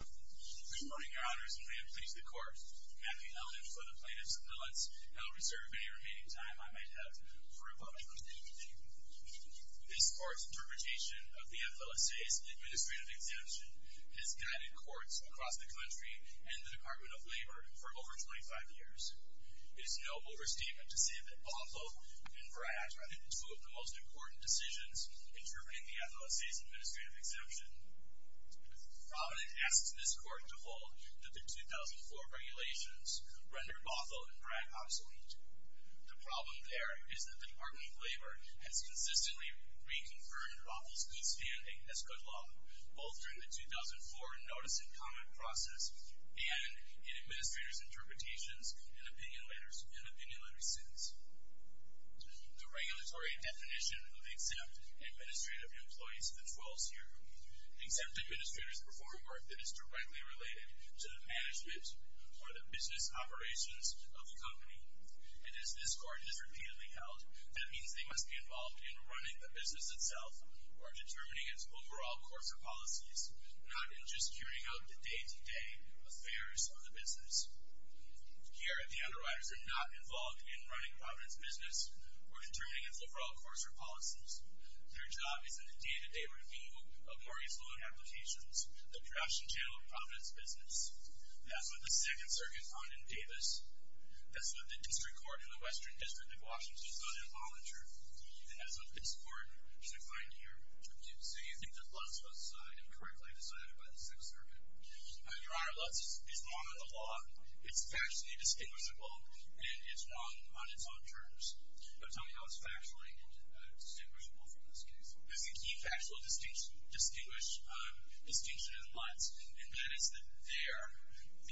Good morning, Your Honors, and may it please the Court, that the evidence for the plaintiff's appealants now reserve any remaining time I might have for rebuttal. This Court's interpretation of the FLSA's administrative exemption has guided courts across the country and the Department of Labor for over 25 years. It is no overstatement to say that Bonneville and Brad are the two of the most important decisions in terminating the FLSA's administrative exemption. Provident asks this Court to hold that the 2004 regulations rendered Bothell and Brad obsolete. The problem there is that the Department of Labor has consistently reconfirmed Bothell's good standing as good law, both during the 2004 notice and comment process and in administrators' interpretations and opinion letters since. The regulatory definition of exempt administrative employees patrols here. Exempt administrators perform work that is directly related to the management or the business operations of the company. And as this Court has repeatedly held, that means they must be involved in running the business itself or determining its overall course of policies, not in just carrying out the day-to-day affairs of the business. Here, the underwriters are not involved in running Provident's business or determining its overall course or policies. Their job is in the day-to-day review of Morgan's loan applications that crash and jail Provident's business. As with the Second Circuit found in Davis, as with the District Court in the Western District of Washington, so they're voluntary. And as with this Court, which I find here. So you think that Lutz was incorrectly decided by the Second Circuit? Your Honor, Lutz is wrong on the law. It's factually distinguishable and it's wrong on its own terms. Tell me how it's factually distinguishable from this case. There's a key factual distinction in Lutz and that is that there,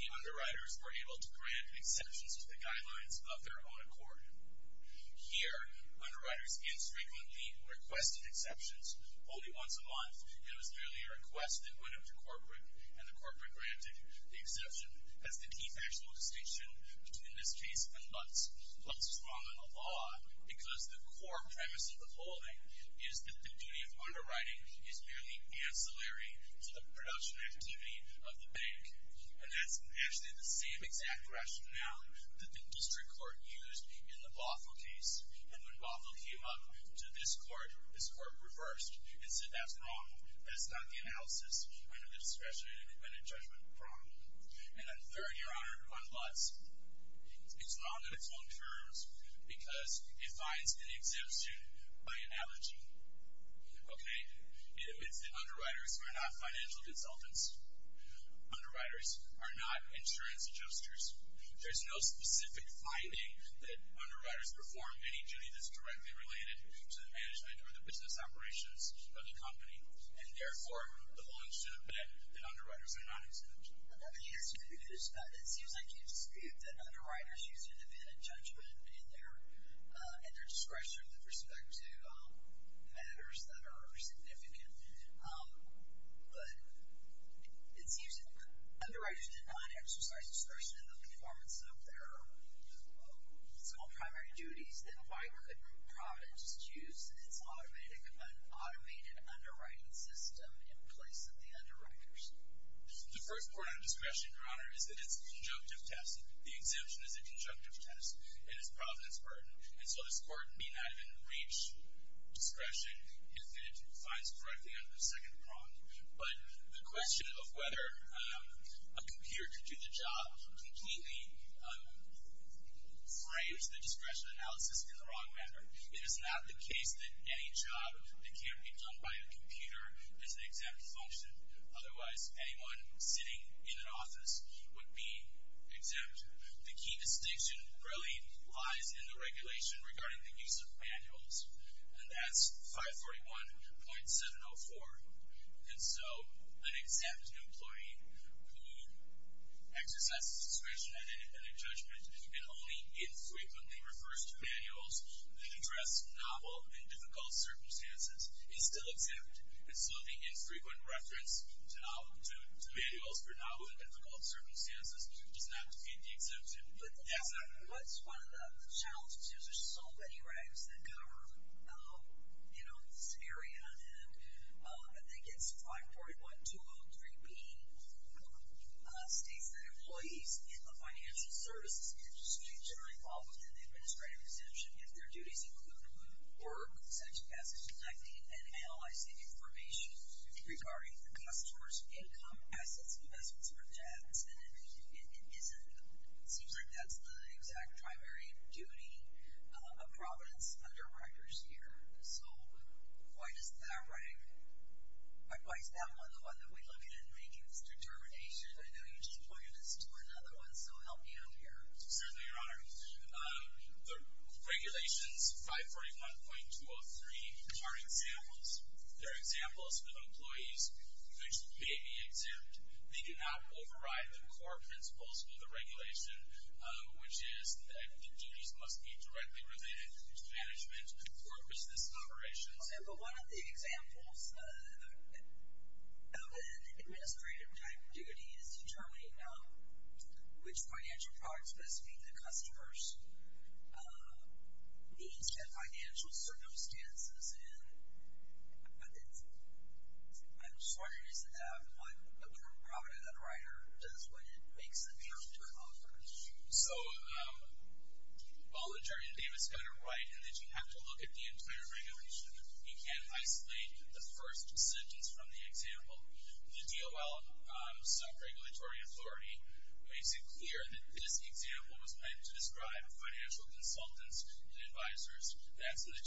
the underwriters were able to grant exceptions to the guidelines of their own accord. Here, underwriters infrequently requested exceptions, only once a month. It was merely a request that went up to corporate and the corporate granted the exception. That's the key factual distinction between this case and Lutz. Lutz is wrong on the law because the core premise of the holding is that the duty of underwriting is merely ancillary to the production activity of the bank. And that's actually the same exact rationale that the District Court used in the Bothell case. And when Bothell came up to this Court, this Court reversed and said that's wrong. That's not the analysis under the discretionary independent judgment problem. And then third, Your Honor, on Lutz, it's wrong on its own terms because it finds an exemption by analogy. Okay? It admits that underwriters are not financial consultants. Underwriters are not insurance adjusters. There's no specific finding that underwriters perform any duty that's directly related to the management or the business operations of the company. And therefore, the holding should admit that underwriters are not exceptions. Let me ask you this. It seems like you dispute that underwriters use independent judgment in their discretion with respect to matters that are significant. But it seems that underwriters did not exercise discretion in the performance of their small primary duties. Then why couldn't Providence use its automated underwriting system in place of the underwriters? The first part of discretion, Your Honor, is that it's a conjunctive test. The exemption is a conjunctive test. It is Providence's burden. And so this burden may not even reach discretion if it finds directly under the second prong. But the question of whether a computer could do the job completely frames the discretion analysis in the wrong manner. It is not the case that any job that can't be done by a computer has an exempt function. Otherwise, anyone sitting in an office would be exempt. The key distinction really lies in the regulation regarding the use of manuals. And that's 541.704. And so an exempt employee who exercises discretion in independent judgment and only infrequently refers to manuals that address novel and difficult circumstances is still exempt. And so the infrequent reference to manuals for novel and difficult circumstances does include the exemption. But what's one of the challenges is there's so many regs that cover, you know, this area. And I think it's 541.203b states that employees in the financial services industry generally fall within the administrative exemption if their duties include work, such as collecting and analyzing information regarding the customer's income, assets, investments, or debts. And it seems like that's the exact primary duty of Providence underwriters here. So why is that one the one that we look at in making this determination? I know you just pointed this to another one, so help me out here. Certainly, Your Honor. The regulations 541.203 are examples. They're examples for the employees which may be exempt. They do not override the core principles of the regulation, which is that the duties must be directly related to management or business operations. Okay, but one of the examples of an administrative type duty is determining which financial product specifying the customers needs to have financial circumstances. And I'm just wondering as to what a Providence underwriter does when it makes a decision to an officer. So while Attorney Davis got it right in that you have to look at the entire regulation, you can't isolate the first sentence from the example. The DOL sub-regulatory authority makes it clear that this example was meant to describe financial consultants and advisors. That's in the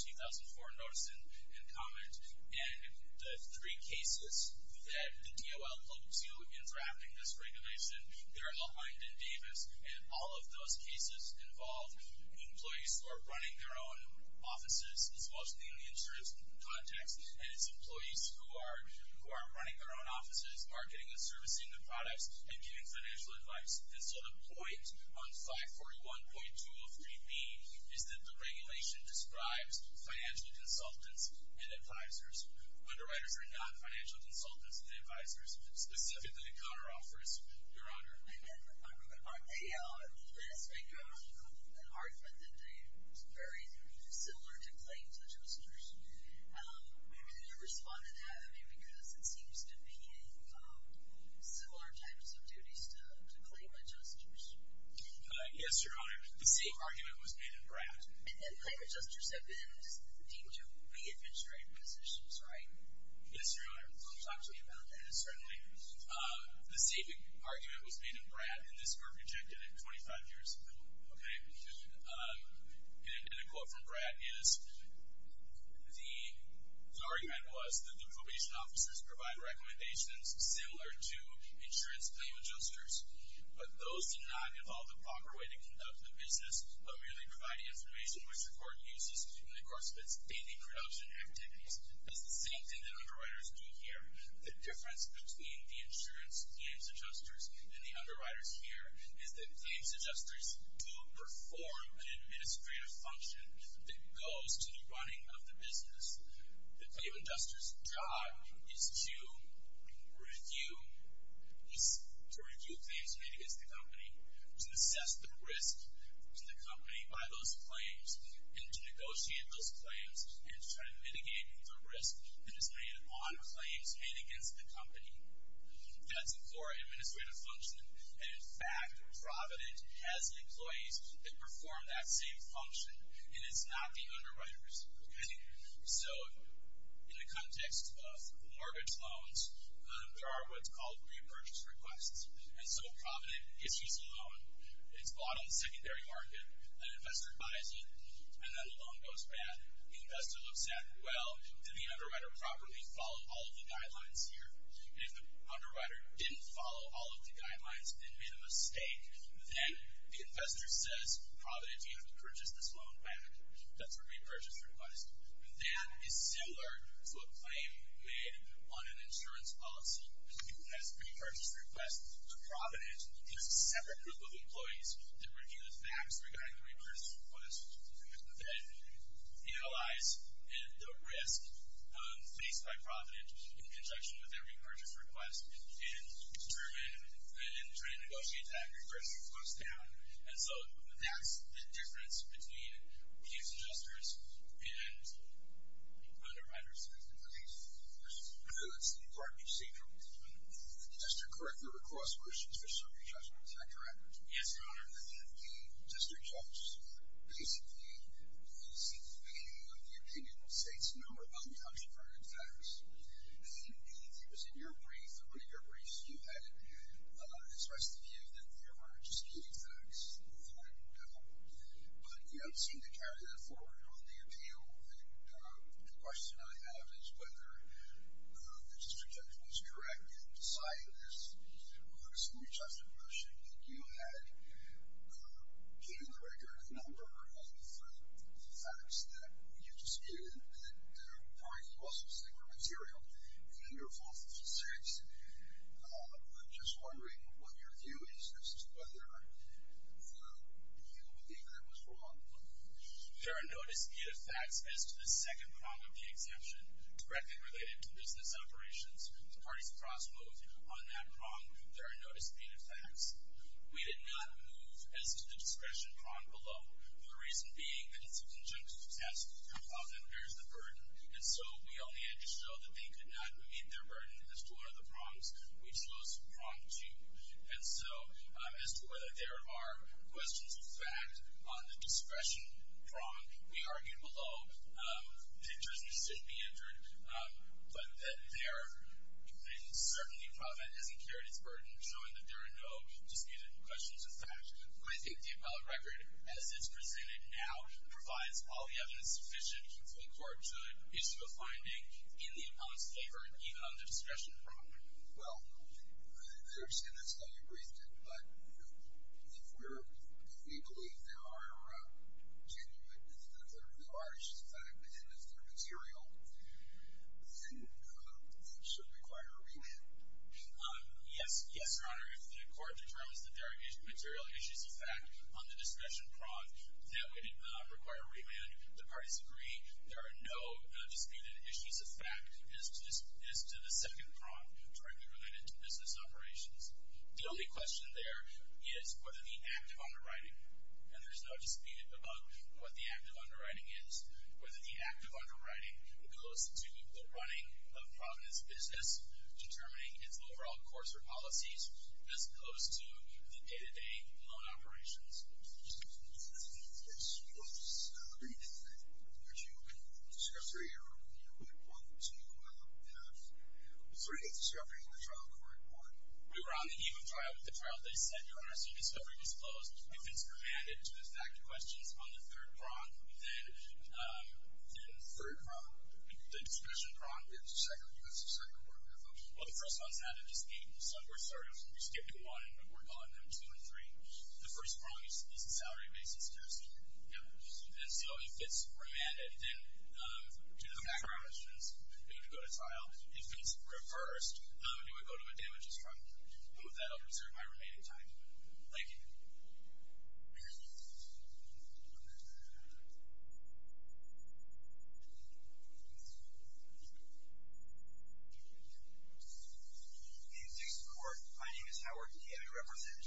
2004 notice and comment. And the three cases that the DOL looked to in drafting this regulation, they're behind in Davis. And all of those cases involve employees who are running their own offices, as well as being in the insurance context. And it's employees who are running their own offices, marketing and servicing the products, and giving financial advice. And so the point on 541.2 of 3B is that the regulation describes financial consultants and advisors. Underwriters are not financial consultants and advisors, specifically counter-offers. Your Honor. I'm going to put mine real quick. Okay, last week you had an argument that they were very similar to claims adjusters. How can you respond to that? Because it seems to be similar types of duties to claim adjusters. Yes, Your Honor. The same argument was made in BRAD. And claim adjusters have been deemed to re-administrate positions, right? Yes, Your Honor. Can you talk to me about that? Certainly. The same argument was made in BRAD, and this was rejected 25 years ago. Okay. And in a quote from BRAD is, the argument was that the probation officers provide recommendations similar to insurance claim adjusters. But those do not involve the proper way to conduct the business, but merely provide information which the court uses in the course of its daily production activities. It's the same thing that underwriters do here. The difference between the insurance claims adjusters and the underwriters here is that claims adjusters do perform an administrative function that goes to the running of the business. The claim adjuster's job is to review claims made against the company, to assess the risk to the company by those claims, and to negotiate those claims, and to try to mitigate the risk that is made on claims made against the company. That's a core administrative function. And in fact, Provident has employees that perform that same function, and it's not the underwriters. So in the context of mortgage loans, there are what's called repurchase requests. And so Provident issues a loan. It's bought on the secondary market. An investor buys it, and then the loan goes bad. The investor looks at, well, did the underwriter properly follow all of the guidelines here? And if the underwriter didn't follow all of the guidelines and made a mistake, then the investor says, Provident, you have to purchase this loan back. That's a repurchase request. That is similar to a claim made on an insurance policy. That's a repurchase request to Provident. It's a separate group of employees that review the facts regarding the repurchase request, then analyze the risk faced by Provident in conjunction with their repurchase request, and determine and try to negotiate that as the price goes down. And so that's the difference between these adjusters and the underwriters. Thank you for these questions. I know that's the part you say, but just to correct the request questions, Yes, Your Honor. The district judge basically is the opinion of the opinion of states no or uncounted for in facts. And it was in your brief, or one of your briefs, you had expressed the view that there were disputed facts that were debatable. But you don't seem to carry that forward on the appeal. And the question I have is whether the district judge was correct in deciding this There are no disputed facts as to the second prong of the exemption directly related to business operations. The parties cross both on that prong. There are no disputed facts. We did not move as to the discretion prong below, for the reason being that it's a conjunction test of how them bears the burden. And so we only had to show that they could not meet their burden as to one of the prongs. We chose prong two. And so as to whether there are questions of fact on the discretion prong, we argued below. The judge may still be injured. But that there is certainly a problem that hasn't carried its burden, showing that there are no disputed questions of fact. Do I think the appellate record, as it's presented now, provides all the evidence sufficient for a court to issue a finding in the appellant's favor, even on the discretion prong? Well, I understand that's how you briefed it. But if we're, if we believe there are genuine, if there are issues of fact, and it's their material, then it should require a remand. Yes, yes, Your Honor. If the court determines that there are material issues of fact on the discretion prong, that would require a remand. The parties agree. There are no disputed issues of fact as to the second prong, directly related to business operations. The only question there is whether the act of underwriting, and there's no dispute about what the act of underwriting is, whether the act of underwriting goes to the running of Providence business, determining its overall course or policies, as opposed to the day-to-day loan operations. Yes, Your Honor. I agree with that. Would you, in discussion of your point, want to have three discussions in the trial court, or? We were on the eve of trial with the trial. They said, Your Honor, so the discovery was closed. If it's remanded to the fact questions on the third prong, then third prong, the discretion prong. It's the second court, Your Honor. Well, the first one's not a dispute, so we're sort of, we're skipping one, but we're calling them two and three. The first prong is the salary basis test. Yes. And so, if it's remanded, then to the background questions, it would go to trial. If it's reversed, then it would go to a damages front. And with that, I'll reserve my remaining time. Thank you. In this court, my name is Howard, and I represent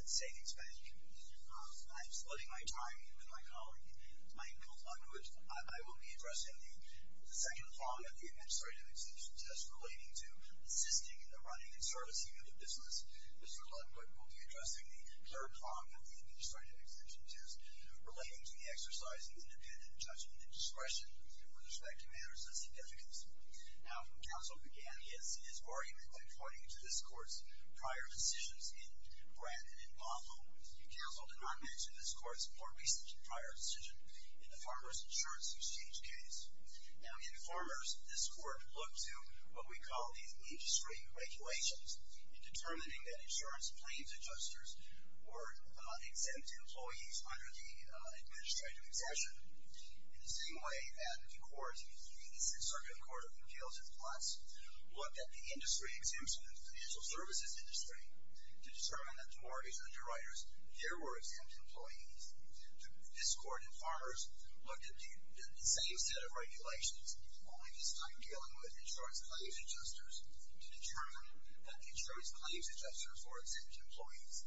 that savings bank. I'm splitting my time with my colleague, Michael, under which I will be addressing the second prong of the administrative exemption test, relating to assisting in the running and servicing of a business. Mr. Ludwood will be addressing the third prong of the administrative exemption test, relating to the exercise of independent judgment and discretion with respect to matters of significance. Now, when counsel began his argument, according to this court's prior decisions in Grant and in Bothell, counsel did not mention this court's more recent prior decision in the Farmer's Insurance Exchange case. Now, in Farmers, this court looked to what we call these industry regulations in determining that insurance claims adjusters were exempt employees under the administrative excession, in the same way that the court, the Sixth Circuit Court of Appeals in Plus, looked at the industry exemptions, the financial services industry, to determine that mortgage underwriters, there were exempt employees. This court in Farmers looked at the same set of regulations, only this time dealing with insurance claims adjusters, to determine that the insurance claims adjusters were exempt employees.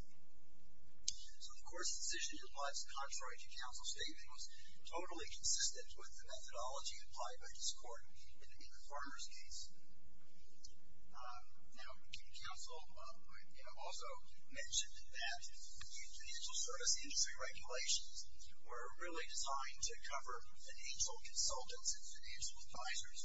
So, of course, the decision in Plus, contrary to counsel's statement, was totally consistent with the methodology applied by this court in the Farmers case. Now, counsel also mentioned that the financial service industry regulations were really designed to cover financial consultants and financial advisors,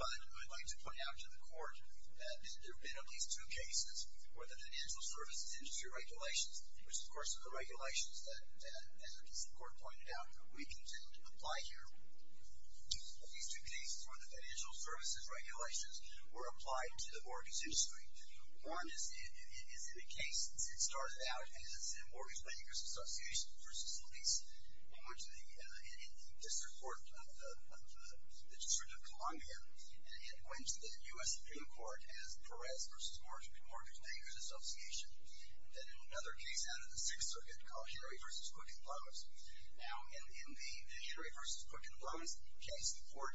but I'd like to point out to the court that there have been at least two cases where the financial services industry regulations, which, of course, are the regulations that, as the court pointed out, we continue to apply here, that these two cases where the financial services regulations were applied to the mortgage industry. One is in a case that started out as a Mortgage Bankers Association versus Lease. It went to the District Court of the District of Columbia, and it went to the US Supreme Court as Perez versus Mortgage Bankers Association. Then another case out of the Sixth Circuit called Henry versus Quicken Loans. Now, in the Henry versus Quicken Loans case, the court,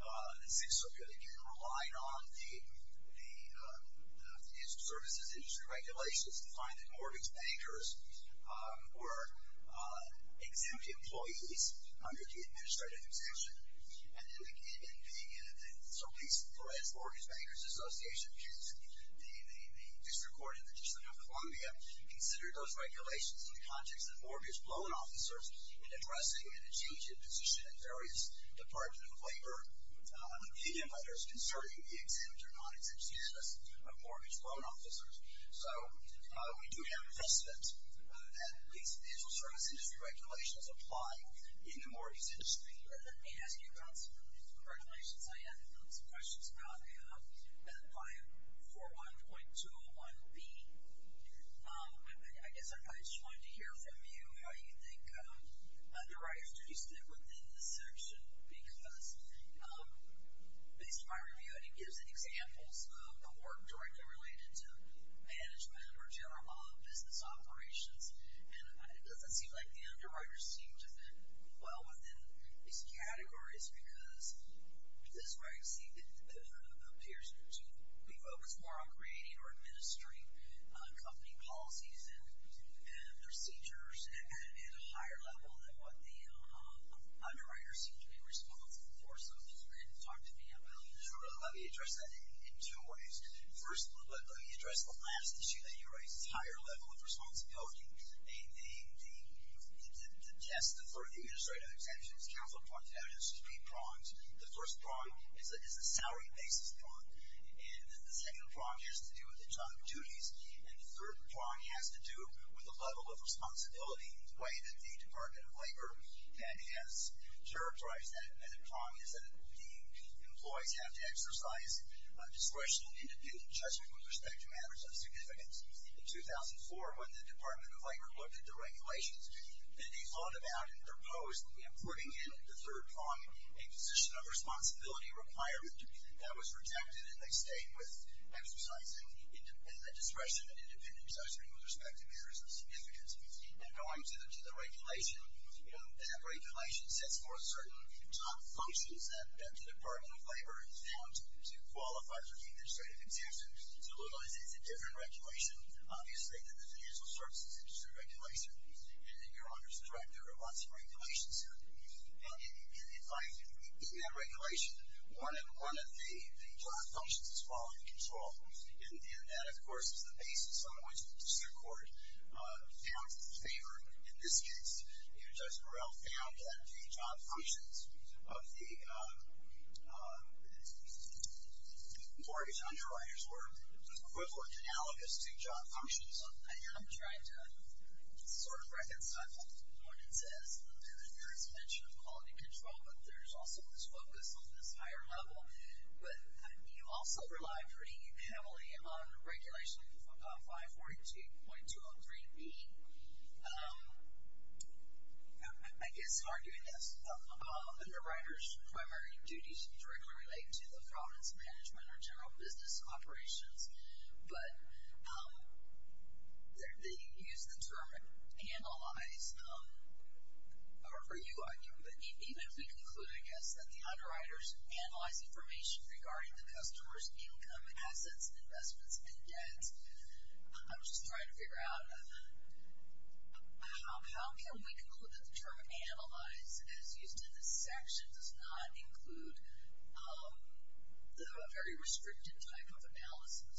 the Sixth Circuit, again, relied on the financial services industry regulations to find that mortgage bankers were exempt employees under the administrative exemption. And then, again, in being in a case, so Lease versus Mortgage Bankers Association, which is the District Court of the District of Columbia, considered those regulations in the context of mortgage loan officers in addressing and achieving a position at various departments of labor, opinion letters concerning the exempt or non-exempt status of mortgage loan officers. So we do have evidence that these financial services industry regulations apply in the mortgage industry. Let me ask you about some of these regulations. I have some questions about 541.201B. I guess I just wanted to hear from you how you think the writers do sit within this section, because based on my review, and it gives examples of the work directly related to management or general law of business operations, and it doesn't seem like the underwriters seem to fit well within these categories, because this right, see, appears to be focused more on creating or administering company policies and procedures at a higher level than what the underwriters seem to be responsible for. So if you could talk to me about that. Let me address that in two ways. First, let me address the last issue that you raised, this higher level of responsibility. The test for the administrative exemptions, council prongs, evidence to be pronged, the first prong is a salary basis prong, and the second prong has to do with the job duties, and the third prong has to do with the level of responsibility, the way that the Department of Labor has characterized that, and the prong is that the employees have to exercise discretion and independent judgment with respect to matters of significance. In 2004, when the Department of Labor looked at the regulations, they thought about and proposed putting in the third prong a position of responsibility requirement that was rejected, and they stayed with exercising discretion and independent judgment with respect to matters of significance. And going to the regulation, that regulation sets forth certain top functions that the Department of Labor is bound to qualify for the administrative exemption. So literally, it's a different regulation. Obviously, the financial services industry regulation, and your honor's correct, there are lots of regulations here. And in that regulation, one of the job functions is quality control, and that, of course, is the basis on which the Supreme Court found favor. In this case, Judge Morrell found that the job functions of the mortgage underwriters were equivalent analogous to job functions. I am trying to sort of reconcile what it says, and there is a mention of quality control, but there's also this focus on this higher level. But you also relied pretty heavily on regulation 542.203B. I guess arguing this, underwriters' primary duty should directly relate to the province management or general business operations. But they use the term analyze, or you argue, but even if we conclude, I guess, that the underwriters analyze information regarding the customer's income, assets, investments, and debts, I'm just trying to figure out, how can we conclude that the term analyze, as used in this section, does not include the very restricted type of analysis?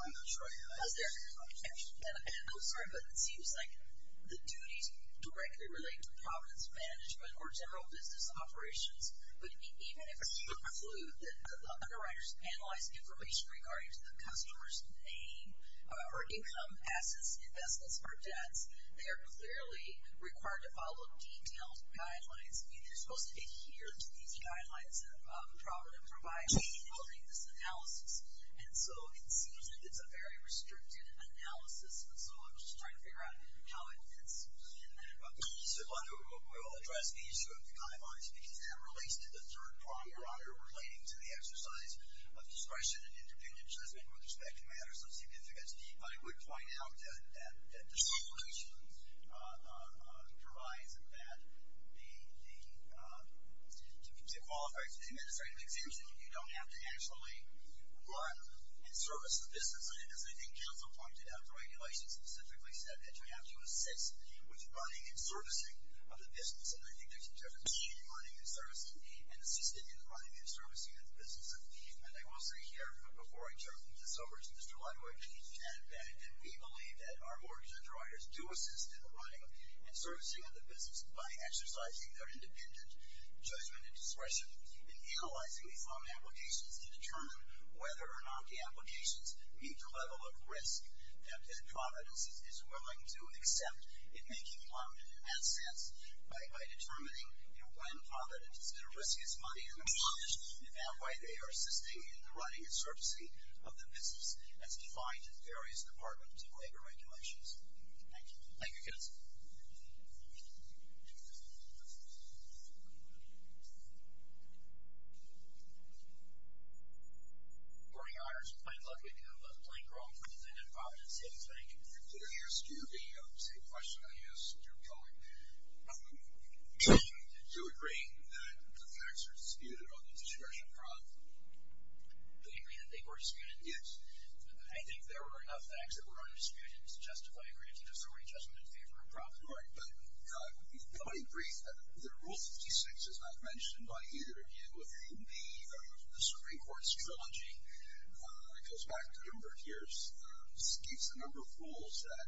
I'm not sure. Was there, and I'm sorry, but it seems like the duties directly relate to province management or general business operations. But even if we conclude that the underwriters analyze information regarding the customer's name or income, assets, investments, or debts, they are clearly required to follow detailed guidelines. I mean, they're supposed to adhere to these guidelines that Providence provides in building this analysis. And so it seems like it's a very restricted analysis. And so I'm just trying to figure out how it fits in there. So we will address the issue of the guidelines because that relates to the third prong, Your Honor, relating to the exercise of discretion and interdependent judgment with respect to matters of significance. But I would point out that the solicitation provides that to qualify for the administrative exemption, you don't have to actually run and service the business. And as I think Council pointed out, the regulation specifically said that you have to assist with running and servicing of the business. And I think there's a difference between running and servicing and assisting in the running and servicing of the business. And I will say here, before I turn this over to Mr. Leibowitz, that we believe that our mortgage underwriters do assist in the running and servicing of the business by exercising their independent judgment and discretion in analyzing these loan applications to determine whether or not the applications meet the level of risk that Providence is willing to accept in making that sense by determining, you know, when Providence is going to risk its money in the mortgage and why they are assisting in the running and servicing of the business as defined in various departments of labor regulations. Thank you. Thank you, Counselor. Good morning, Your Honor. I'm looking at a blank roll from the Providence Savings Bank. Did I ask you the same question I asked your colleague? Do you agree that the facts are disputed on the discretion of Providence? Do you agree that they were disputed? Yes. I think there were enough facts that were undisputed to justify a granted authority judgment in favor of Providence. Right. But I would be willing to agree that Rule 56 is not mentioned by either of you. In the Supreme Court's trilogy, it goes back a number of years, gives a number of rules that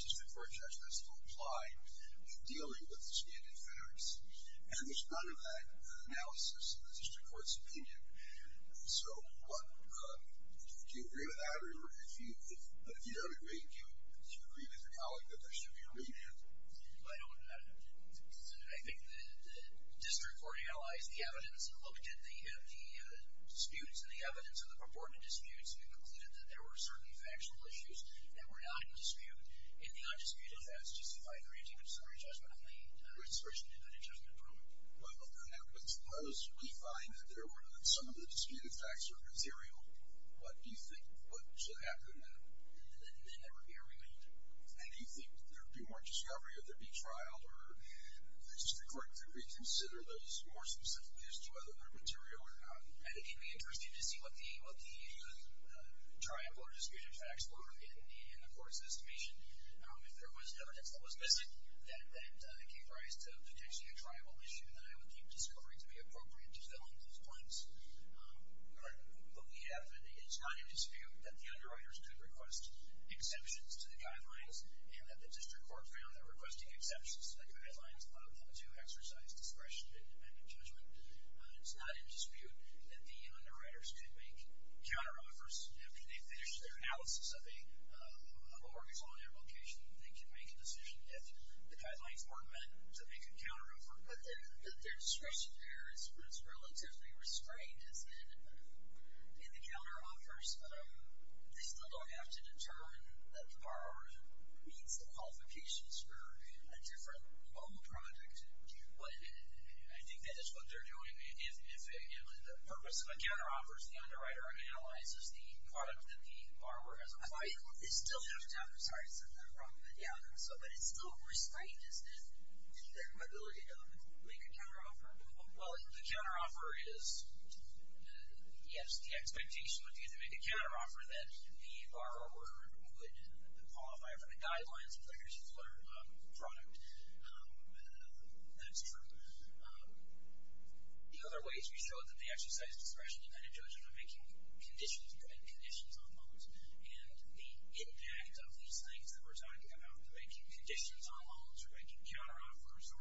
district court judgments still apply when dealing with the standard facts. And there's none of that analysis in the district court's opinion. So, what, do you agree with that, or if you don't agree, do you agree with your colleague that there should be a remand? I don't have an objection to that. I think the district court analyzed the evidence and looked at the disputes and the evidence and the purported disputes and concluded that there were certain factual issues that were not in dispute and the undisputed facts justified granting of summary judgment on the discretion of an adjudicative prerogative. Well, if that happens, unless we find that there were some of the disputed facts are material, what do you think, what should happen then? Then there would be a remand. And do you think there'd be more discovery, or there'd be trial, or the district court could reconsider those more specifically as to whether they're material or not? I think it'd be interesting to see what the tribal or disputed facts were in the court's estimation. If there was evidence that was missing that gave rise to potentially a tribal issue, then I would keep discovery to be appropriate to fill in those blanks. But we have, it's not in dispute that the underwriters could request exceptions to the guidelines and that the district court found that requesting exceptions to the guidelines allowed them to exercise discretion in independent judgment. It's not in dispute that the underwriters could make counteroffers after they finish their analysis of a work is on their location. They can make a decision if the guidelines weren't meant to make a counteroffer. But their discretion there is relatively restrained, as in in the counteroffers, they still don't have to determine that the borrower meets the qualifications for a different mobile project. But I think that is what they're doing. If the purpose of a counteroffer is the underwriter analyzes the product that the borrower has applied. It still has to, I'm sorry, I said that wrong. But yeah, so but it's still restrained, isn't it, in their ability to make a counteroffer? Well, the counteroffer is, yes, the expectation would be to make a counteroffer that the borrower would qualify for the guidelines, but here's the product. That's true. The other ways we showed that they exercised discretion in Edentogen are making conditions, putting conditions on loans. And the impact of these things that we're talking about, making conditions on loans, or making counteroffers, or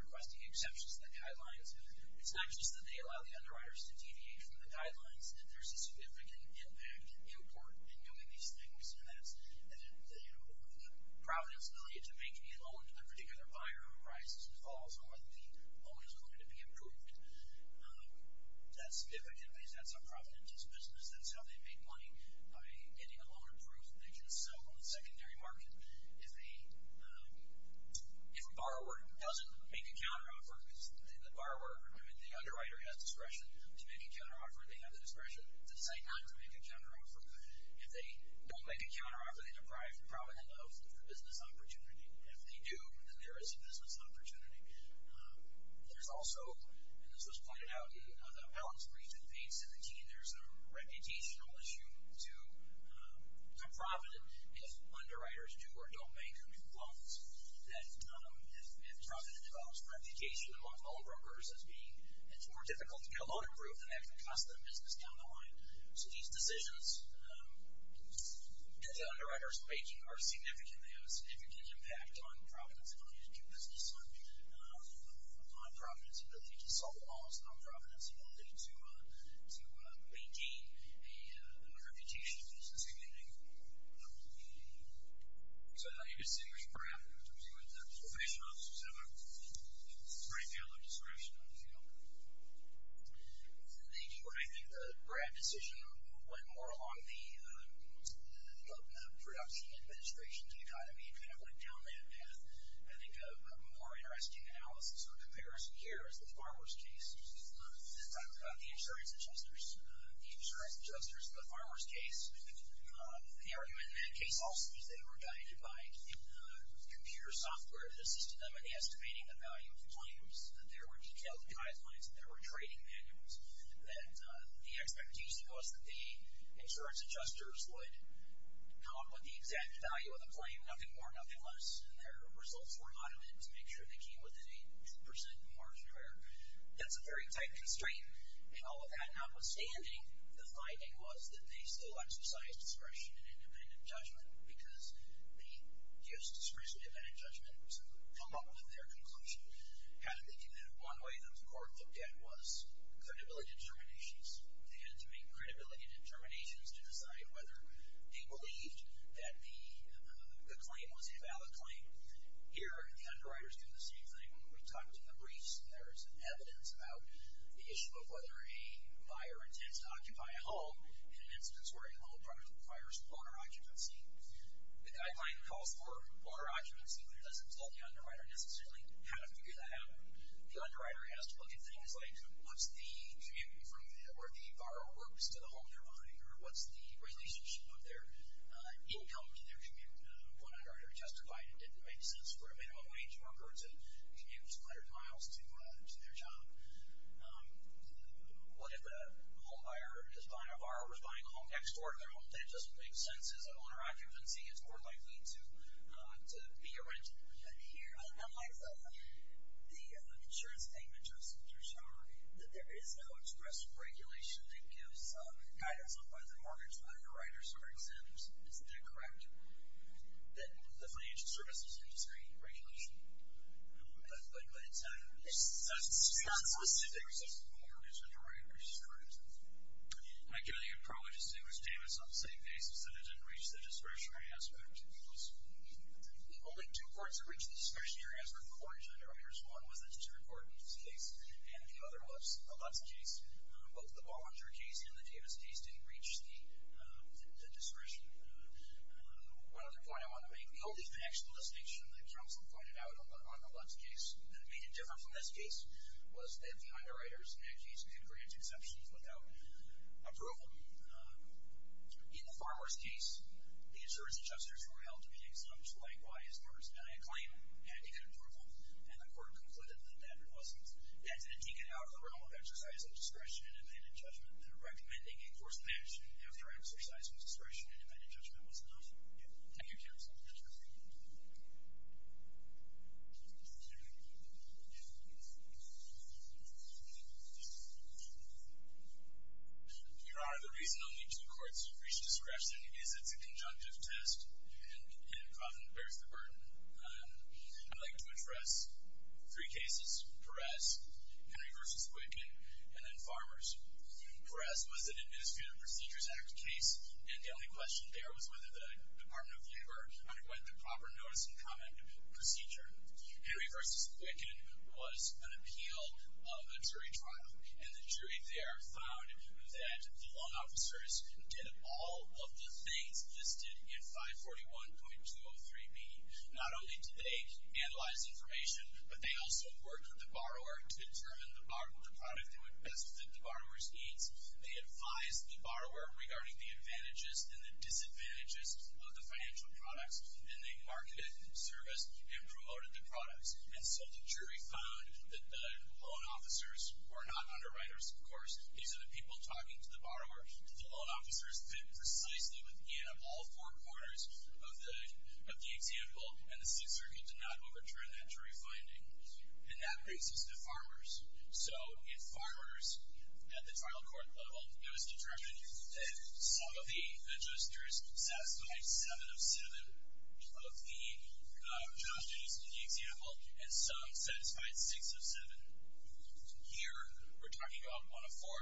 requesting exceptions to the guidelines, it's not just that they allow the underwriters to deviate from the guidelines, that there's a significant impact and import in doing these things. And that's the providence ability to make a loan to the particular buyer who falls on whether the loan is going to be approved. That's, if it can be, that's a providence business. That's how they make money, by getting a loan approved that they can sell on the secondary market. If a borrower doesn't make a counteroffer, because the borrower, I mean, the underwriter has discretion to make a counteroffer. They have the discretion to say not to make a counteroffer. If they don't make a counteroffer, they deprive the borrower of the business opportunity. If they do, then there is a business opportunity. There's also, and this was pointed out, the balance brief in page 17, there's a reputational issue to providence if underwriters do or don't make loans. That if providence develops reputation among loan brokers as being, it's more difficult to get a loan approved than having to custom business down the line. So these decisions that the underwriters are making are significant. They have a significant impact on providence ability to do business, on providence ability to solve laws, on providence ability to maintain a reputation in the business community. So I thought you were saying there's a parameter in terms of what the probation officers have a right to have their discretion on the field. They do, and I think the Brad decision went more along the production administration dichotomy and kind of went down that path. I think a more interesting analysis or comparison here is the farmer's case. Talk about the insurance adjusters. The insurance adjusters in the farmer's case, the argument in that case also is they were guided by computer software that assisted them in estimating the value of claims. There were detailed guidelines. There were trading manuals. The expectation was that the insurance adjusters would come up with the exact value of the claim, nothing more, nothing less. And their results were automated to make sure they came within a 2% margin or higher. That's a very tight constraint. And all of that notwithstanding, the finding was that they still exercised discretion in independent judgment because they used discretion in independent judgment to come up with their conclusion. How did they do that? One way that the court looked at was credibility determinations. They had to make credibility determinations to decide whether they believed that the claim was a valid claim. Here, the underwriters do the same thing. When we talked in the briefs, there is evidence about the issue of whether a buyer intends to occupy a home in an instance where a home product requires owner occupancy. The guideline calls for owner occupancy, but it doesn't tell the underwriter necessarily how to figure that out. The underwriter has to look at things like what's the commute from where the borrower works to the home they're buying, or what's the relationship of their income to their commute. One underwriter testified it didn't make sense for a minimum wage worker to commute 100 miles to their job. What if the home buyer is buying a bar or is buying a home next door to their home? That doesn't make sense. As an owner occupancy, it's more likely to be a rental. But here, unlike the insurance payment justice, there's no express regulation that gives guidance on whether the mortgage underwriters are exempt. Isn't that correct? The financial services industry regulation. But it's not solicited. There's a mortgage underwriter's insurance. My guess is you'd probably just do his payments on the same basis, that it didn't reach the discretionary aspect. The only two courts that reached the discretionary aspect were the mortgage underwriters. One was the Tudor Court in this case, and the other Lutz case. Both the Bollinger case and the Davis case didn't reach the discretion. One other point I want to make. The only factual distinction the counsel pointed out on the Lutz case that made it different from this case was that the underwriters in that case could grant exceptions without approval. In the farmer's case, the insurance justice underwriters were held to be exempt. Likewise, farmers had a claim, and he could approve them. And the court concluded that that wasn't the case. And didn't he get out of the realm of exercising discretion and independent judgment in recommending a course of action after exercising discretion and independent judgment was enough? Yeah. Thank you, counsel. Your Honor, the reason only two courts reached discretion is it's a conjunctive test, and it often bears the burden. I'd like to address three cases. Perez, Henry v. Quicken, and then Farmers. Perez was an Administrative Procedures Act case, and the only question there was whether the Department of Labor underwent the proper notice and comment procedure. Henry v. Quicken was an appeal of a jury trial, and the jury there found that the law officers did all of the things listed in 541.203b. Not only did they analyze information, but they also worked with the borrower to determine the product that would best fit the borrower's needs. They advised the borrower regarding the advantages and the disadvantages of the financial products, and they marketed, serviced, and promoted the products. And so the jury found that the loan officers were not underwriters, of course. These are the people talking to the borrower. The loan officers fit precisely within all four corners of the example, and the Sixth Circuit did not overturn that jury finding. And that brings us to Farmers. So in Farmers, at the trial court level, it was determined that some of the adjusters satisfied seven of seven of the advantages in the example, and some satisfied six of seven. Here, we're talking about one of four.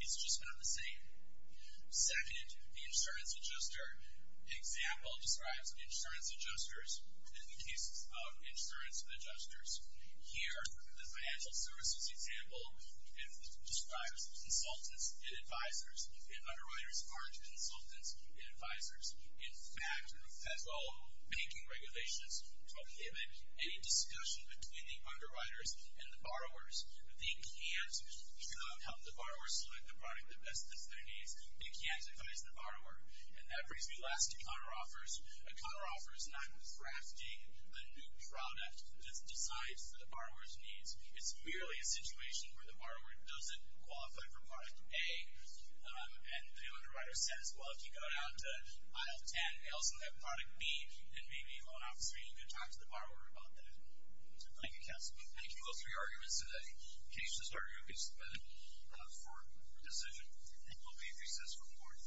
It's just not the same. Second, the insurance adjuster example describes insurance adjusters in the case of insurance adjusters. Here, the financial services example describes consultants and advisors, and underwriters aren't consultants and advisors. In fact, federal banking regulations prohibit any discussion between the underwriters and the borrowers. They can't help the borrower select the product that best fits their needs. They can't advise the borrower. And that brings me last to counteroffers. A counteroffer is not drafting a new product that decides what the borrower's needs. It's merely a situation where the borrower doesn't qualify for product A, and the underwriter says, well, if you go down to aisle 10, they also have product B, and maybe a loan officer isn't going to talk to the borrower about that. Thank you, counsel. Thank you. Those are your arguments today. Case is adjourned for decision. And we'll be in recess for the morning.